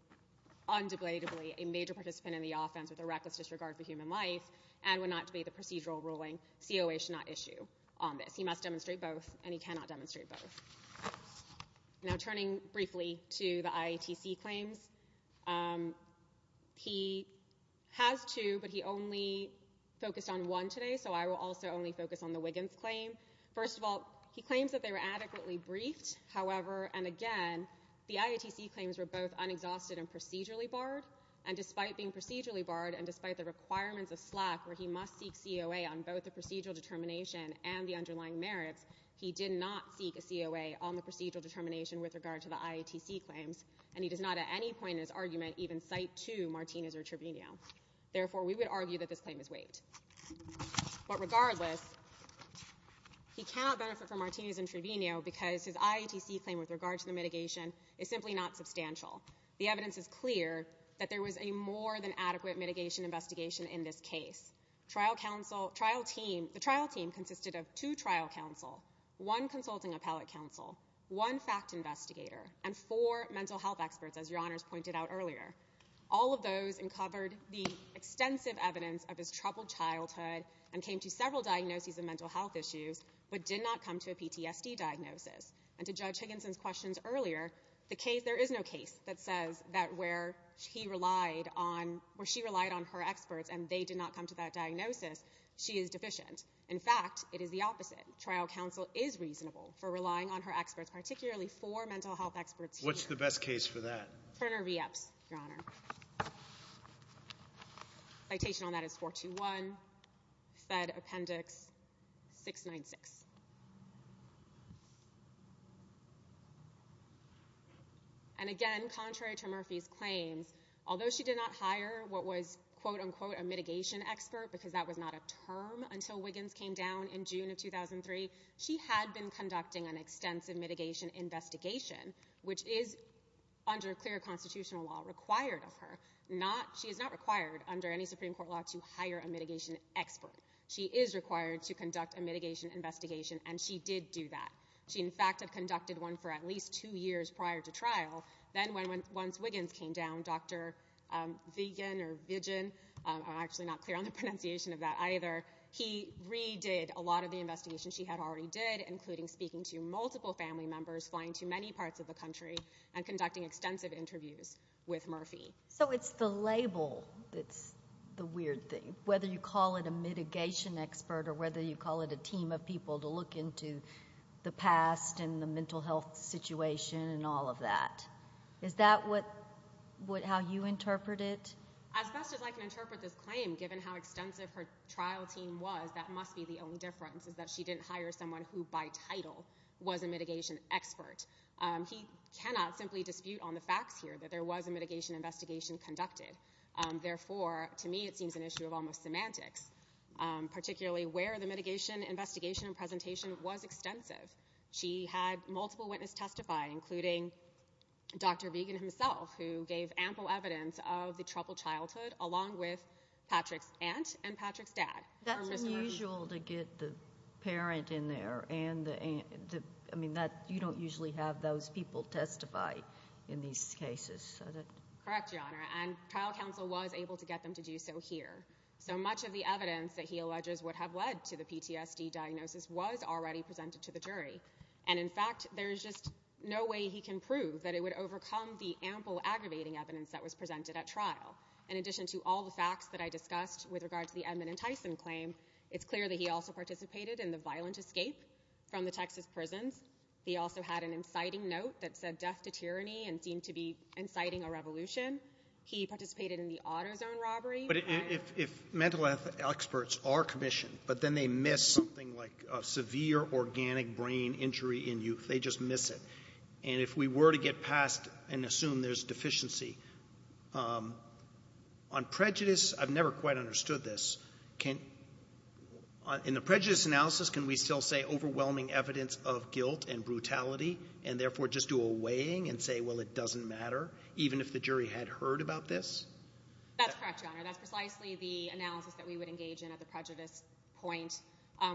undeniably a major participant in the offense with a reckless disregard for human life and would not debate the procedural ruling, COA should not issue on this. He must demonstrate both, and he cannot demonstrate both. Now, turning briefly to the IATC claims, he has two, but he only focused on one today, so I will also only focus on the Wiggins claim. First of all, he claims that they were adequately briefed. However, and again, the IATC claims were both unexhausted and procedurally barred, and despite being procedurally barred and despite the requirements of SLAC where he must seek COA on both the procedural determination and the underlying merits, he did not seek a COA on the procedural determination with regard to the IATC claims, and he does not at any point in his argument even cite to Martinez or Trevino. Therefore, we would argue that this claim is waived. But regardless, he cannot benefit from Martinez and Trevino because his IATC claim with regard to the mitigation is simply not substantial. The evidence is clear that there was a more than adequate mitigation investigation in this case. The trial team consisted of two trial counsel, one consulting appellate counsel, one fact investigator, and four mental health experts, as Your Honors pointed out earlier. All of those uncovered the extensive evidence of his troubled childhood and came to several diagnoses of mental health issues but did not come to a PTSD diagnosis. And to Judge Higginson's questions earlier, there is no case that says that where she relied on her experts and they did not come to that diagnosis, she is deficient. In fact, it is the opposite. Trial counsel is reasonable for relying on her experts, particularly four mental health experts here. What's the best case for that? Turner v. Epps, Your Honor. Citation on that is 421, Fed Appendix 696. And again, contrary to Murphy's claims, although she did not hire what was quote-unquote a mitigation expert because that was not a term until Wiggins came down in June of 2003, she had been conducting an extensive mitigation investigation, which is under clear constitutional law required of her. She is not required under any Supreme Court law to hire a mitigation expert. She is required to conduct a mitigation investigation, and she did do that. She, in fact, had conducted one for at least two years prior to trial. Then once Wiggins came down, Dr. Viggen, I'm actually not clear on the pronunciation of that either, he redid a lot of the investigations she had already did, including speaking to multiple family members, flying to many parts of the country, and conducting extensive interviews with Murphy. So it's the label that's the weird thing, whether you call it a mitigation expert or whether you call it a team of people to look into the past and the mental health situation and all of that. Is that how you interpret it? As best as I can interpret this claim, given how extensive her trial team was, that must be the only difference is that she didn't hire someone who by title was a mitigation expert. He cannot simply dispute on the facts here that there was a mitigation investigation conducted. Therefore, to me it seems an issue of almost semantics, particularly where the mitigation investigation and presentation was extensive. She had multiple witnesses testify, including Dr. Viggen himself, who gave ample evidence of the troubled childhood along with Patrick's aunt and Patrick's dad. That's unusual to get the parent in there and the aunt. I mean, you don't usually have those people testify in these cases. Correct, Your Honor, and trial counsel was able to get them to do so here. So much of the evidence that he alleges would have led to the PTSD diagnosis was already presented to the jury, and in fact there's just no way he can prove that it would overcome the ample, aggravating evidence that was presented at trial. In addition to all the facts that I discussed with regard to the Edmund and Tyson claim, it's clear that he also participated in the violent escape from the Texas prisons. He also had an inciting note that said death to tyranny and seemed to be inciting a revolution. He participated in the auto zone robbery. But if mental health experts are commissioned but then they miss something like a severe organic brain injury in youth, they just miss it. And if we were to get past and assume there's deficiency on prejudice, I've never quite understood this. In the prejudice analysis, can we still say overwhelming evidence of guilt and brutality and therefore just do a weighing and say, well, it doesn't matter, even if the jury had heard about this? That's correct, Your Honor. That's precisely the analysis that we would engage in at the prejudice point.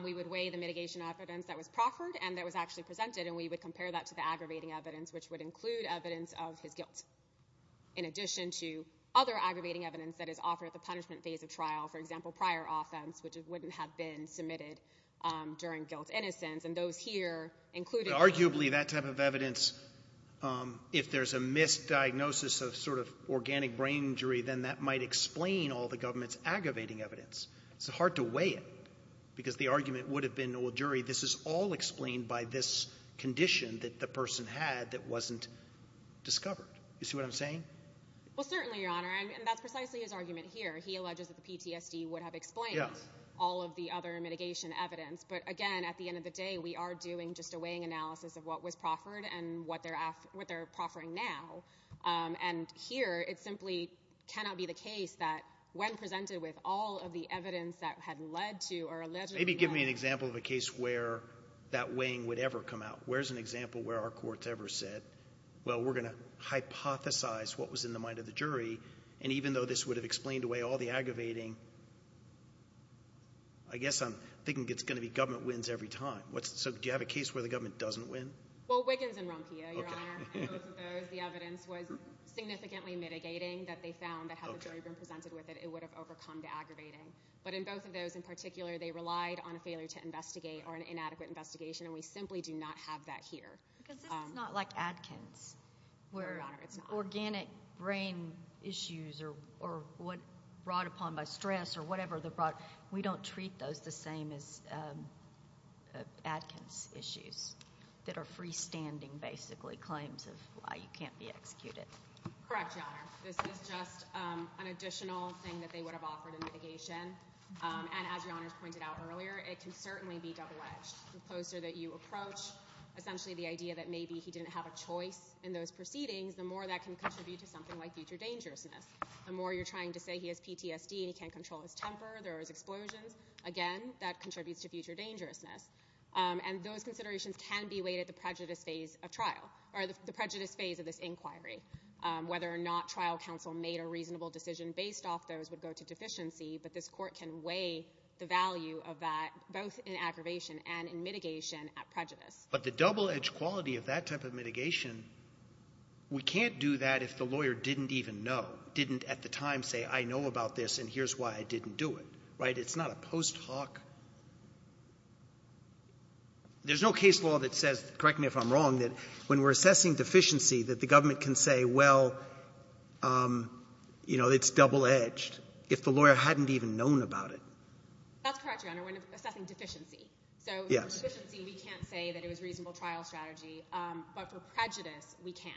We would weigh the mitigation evidence that was proffered and that was actually presented, and we would compare that to the aggravating evidence, which would include evidence of his guilt. In addition to other aggravating evidence that is offered at the punishment phase of trial, for example, prior offense, which wouldn't have been submitted during guilt-innocence, and those here included. But arguably that type of evidence, if there's a misdiagnosis of sort of organic brain injury, then that might explain all the government's aggravating evidence. It's hard to weigh it because the argument would have been, well, jury, this is all explained by this condition that the person had that wasn't discovered. You see what I'm saying? Well, certainly, Your Honor, and that's precisely his argument here. He alleges that the PTSD would have explained all of the other mitigation evidence. But again, at the end of the day, we are doing just a weighing analysis of what was proffered and what they're proffering now. And here it simply cannot be the case that when presented with all of the evidence that had led to or allegedly led to where that weighing would ever come out. Where's an example where our courts ever said, well, we're going to hypothesize what was in the mind of the jury, and even though this would have explained away all the aggravating, I guess I'm thinking it's going to be government wins every time. So do you have a case where the government doesn't win? Well, Wiggins and Rompia, Your Honor, in both of those, the evidence was significantly mitigating that they found that had the jury been presented with it, it would have overcome the aggravating. But in both of those, in particular, they relied on a failure to investigate or an inadequate investigation, and we simply do not have that here. Because this is not like Adkins, where organic brain issues or what brought upon by stress or whatever, we don't treat those the same as Adkins issues that are freestanding, basically, claims of why you can't be executed. Correct, Your Honor. This is just an additional thing that they would have offered in mitigation. And as Your Honor has pointed out earlier, it can certainly be double-edged. The closer that you approach essentially the idea that maybe he didn't have a choice in those proceedings, the more that can contribute to something like future dangerousness. The more you're trying to say he has PTSD and he can't control his temper, there are explosions, again, that contributes to future dangerousness. And those considerations can be weighed at the prejudice phase of trial, or the prejudice phase of this inquiry, whether or not trial counsel made a reasonable decision based off those would go to deficiency, but this Court can weigh the value of that both in aggravation and in mitigation at prejudice. But the double-edged quality of that type of mitigation, we can't do that if the lawyer didn't even know, didn't at the time say, I know about this and here's why I didn't do it, right? It's not a post hoc. There's no case law that says, correct me if I'm wrong, that when we're assessing deficiency, that the government can say, well, you know, it's double-edged, if the lawyer hadn't even known about it. That's correct, Your Honor, when assessing deficiency. So deficiency, we can't say that it was reasonable trial strategy, but for prejudice, we can.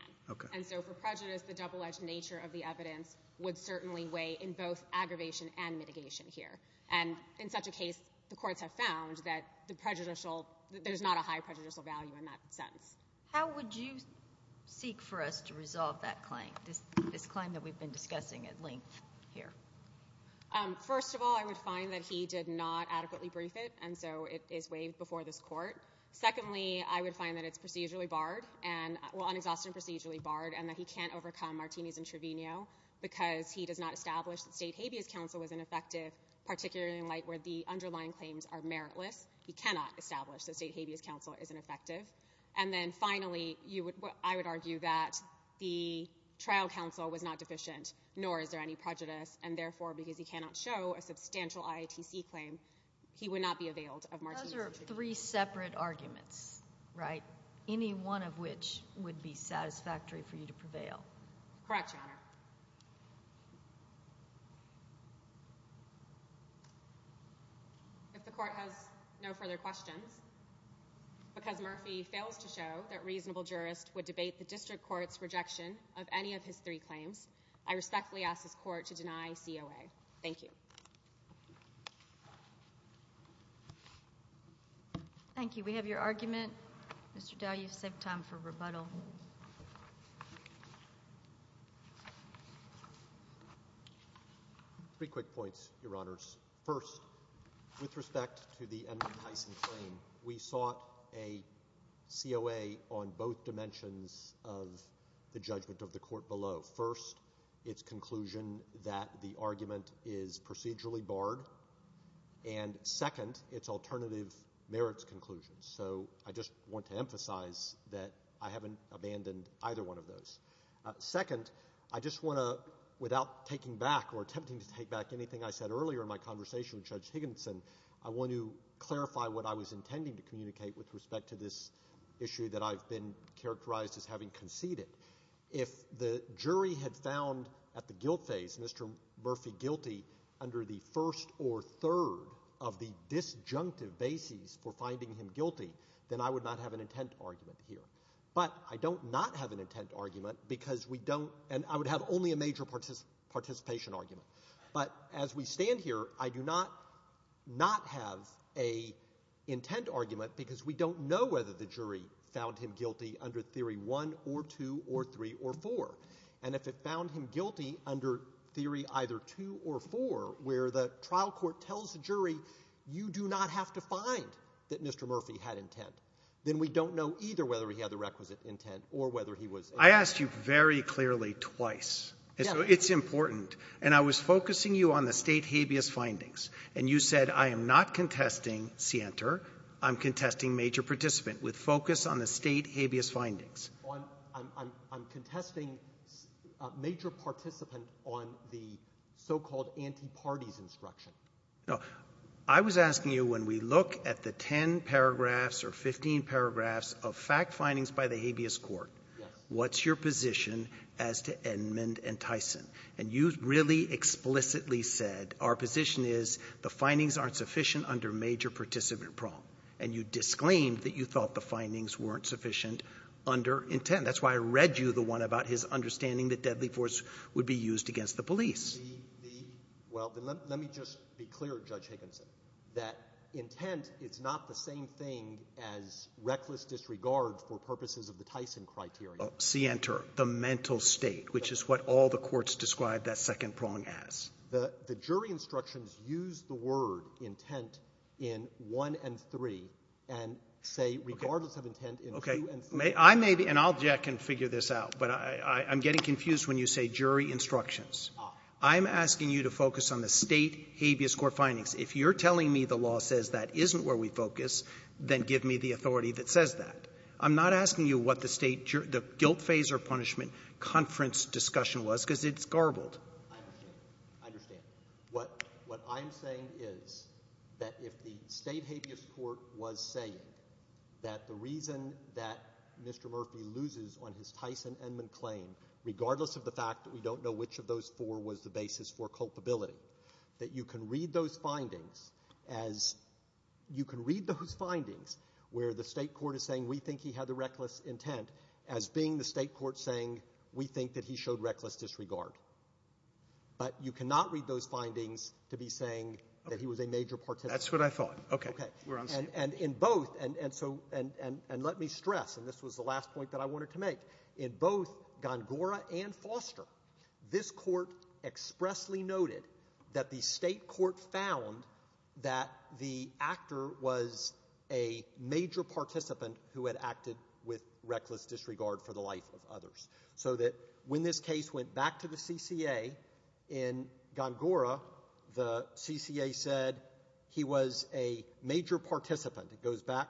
And so for prejudice, the double-edged nature of the evidence would certainly weigh in both aggravation and mitigation here. And in such a case, the courts have found that the prejudicial, that there's not a high prejudicial value in that sentence. How would you seek for us to resolve that claim, this claim that we've been discussing at length here? First of all, I would find that he did not adequately brief it, and so it is waived before this Court. Secondly, I would find that it's procedurally barred and, well, unexhaustible and procedurally barred, and that he can't overcome Martinez and Trevino because he does not establish that state habeas counsel was ineffective, particularly in light where the underlying claims are meritless. He cannot establish that state habeas counsel is ineffective. And then finally, I would argue that the trial counsel was not deficient, nor is there any prejudice, and therefore, because he cannot show a substantial IATC claim, he would not be availed of Martinez and Trevino. Those are three separate arguments, right, any one of which would be satisfactory for you to prevail. Correct, Your Honor. If the Court has no further questions, because Murphy fails to show that reasonable jurists would debate the district court's rejection of any of his three claims, I respectfully ask this Court to deny COA. Thank you. Thank you. We have your argument. Mr. Dow, you've saved time for rebuttal. Three quick points, Your Honors. First, with respect to the Edward Tyson claim, we sought a COA on both dimensions of the judgment of the Court below. First, its conclusion that the argument is procedurally barred, and second, its alternative merits conclusion. So I just want to emphasize that I haven't abandoned either one of those. Second, I just want to, without taking back or attempting to take back anything I said earlier in my conversation with Judge Higginson, I want to clarify what I was intending to communicate with respect to this issue that I've been characterized as having conceded. If the jury had found at the guilt phase Mr. Murphy guilty under the first or third of the disjunctive bases for finding him guilty, then I would not have an intent argument here. But I don't not have an intent argument because we don't – and I would have only a major participation argument. But as we stand here, I do not not have an intent argument because we don't know whether the jury found him guilty under Theory 1 or 2 or 3 or 4. And if it found him guilty under Theory either 2 or 4 where the trial court tells the jury, you do not have to find that Mr. Murphy had intent, then we don't know either whether he had the requisite intent or whether he was – I asked you very clearly twice. So it's important. And I was focusing you on the State habeas findings, and you said, I am not contesting Sienter. I'm contesting major participant with focus on the State habeas findings. I'm contesting major participant on the so-called anti-parties instruction. No. I was asking you when we look at the 10 paragraphs or 15 paragraphs of fact findings by the habeas court, what's your position as to Edmond and Tyson? And you really explicitly said our position is the findings aren't sufficient under major participant prong. And you disclaimed that you thought the findings weren't sufficient under intent. That's why I read you the one about his understanding that deadly force would be used against the police. Well, let me just be clear, Judge Higginson, that intent, it's not the same thing as reckless disregard for purposes of the Tyson criteria. Sienter, the mental state, which is what all the courts describe that second prong as. The jury instructions use the word intent in 1 and 3 and say regardless of intent in 2 and 3. Okay. I may be, and I'll check and figure this out, but I'm getting confused when you say jury instructions. I'm asking you to focus on the State habeas court findings. If you're telling me the law says that isn't where we focus, then give me the authority that says that. I'm not asking you what the guilt phase or punishment conference discussion was because it's garbled. I understand. I understand. What I am saying is that if the State habeas court was saying that the reason that Mr. Murphy loses on his Tyson and McClain, regardless of the fact that we don't know which of those four was the basis for culpability, that you can read those findings where the State court is saying we think he had the reckless intent as being the State court saying we think that he showed reckless disregard. But you cannot read those findings to be saying that he was a major participant. That's what I thought. Okay. We're on the same page. And in both, and so, and let me stress, and this was the last point that I wanted to make, in both Gongora and Foster, this court expressly noted that the State court found that the actor was a major participant who had acted with reckless disregard for the life of others. So that when this case went back to the CCA in Gongora, the CCA said he was a major participant. It goes back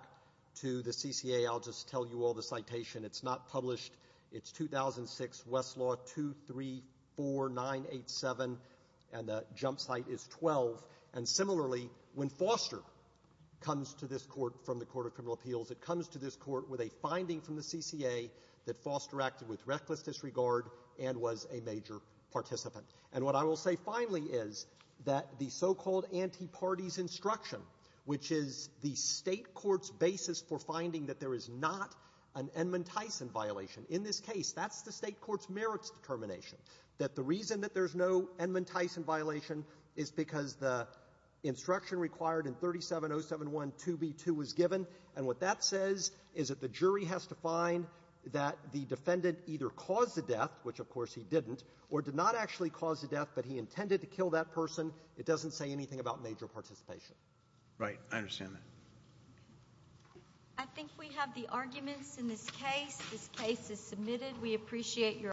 to the CCA. I'll just tell you all the citation. It's not published. It's 2006, Westlaw 234987, and the jump site is 12. And similarly, when Foster comes to this court from the Court of Criminal Appeals, it comes to this court with a finding from the CCA that Foster acted with reckless disregard and was a major participant. And what I will say finally is that the so-called anti-parties instruction, which is the State court's basis for finding that there is not an Edmund Tyson violation, in this case, that's the State court's merits determination, that the reason that there's no Edmund Tyson violation is because the instruction required in 37071 2b2 was given, and what that says is that the jury has to find that the defendant either caused the death, which of course he didn't, or did not actually cause the death, but he intended to kill that person. It doesn't say anything about major participation. Right. I understand that. I think we have the arguments in this case. This case is submitted. We appreciate your...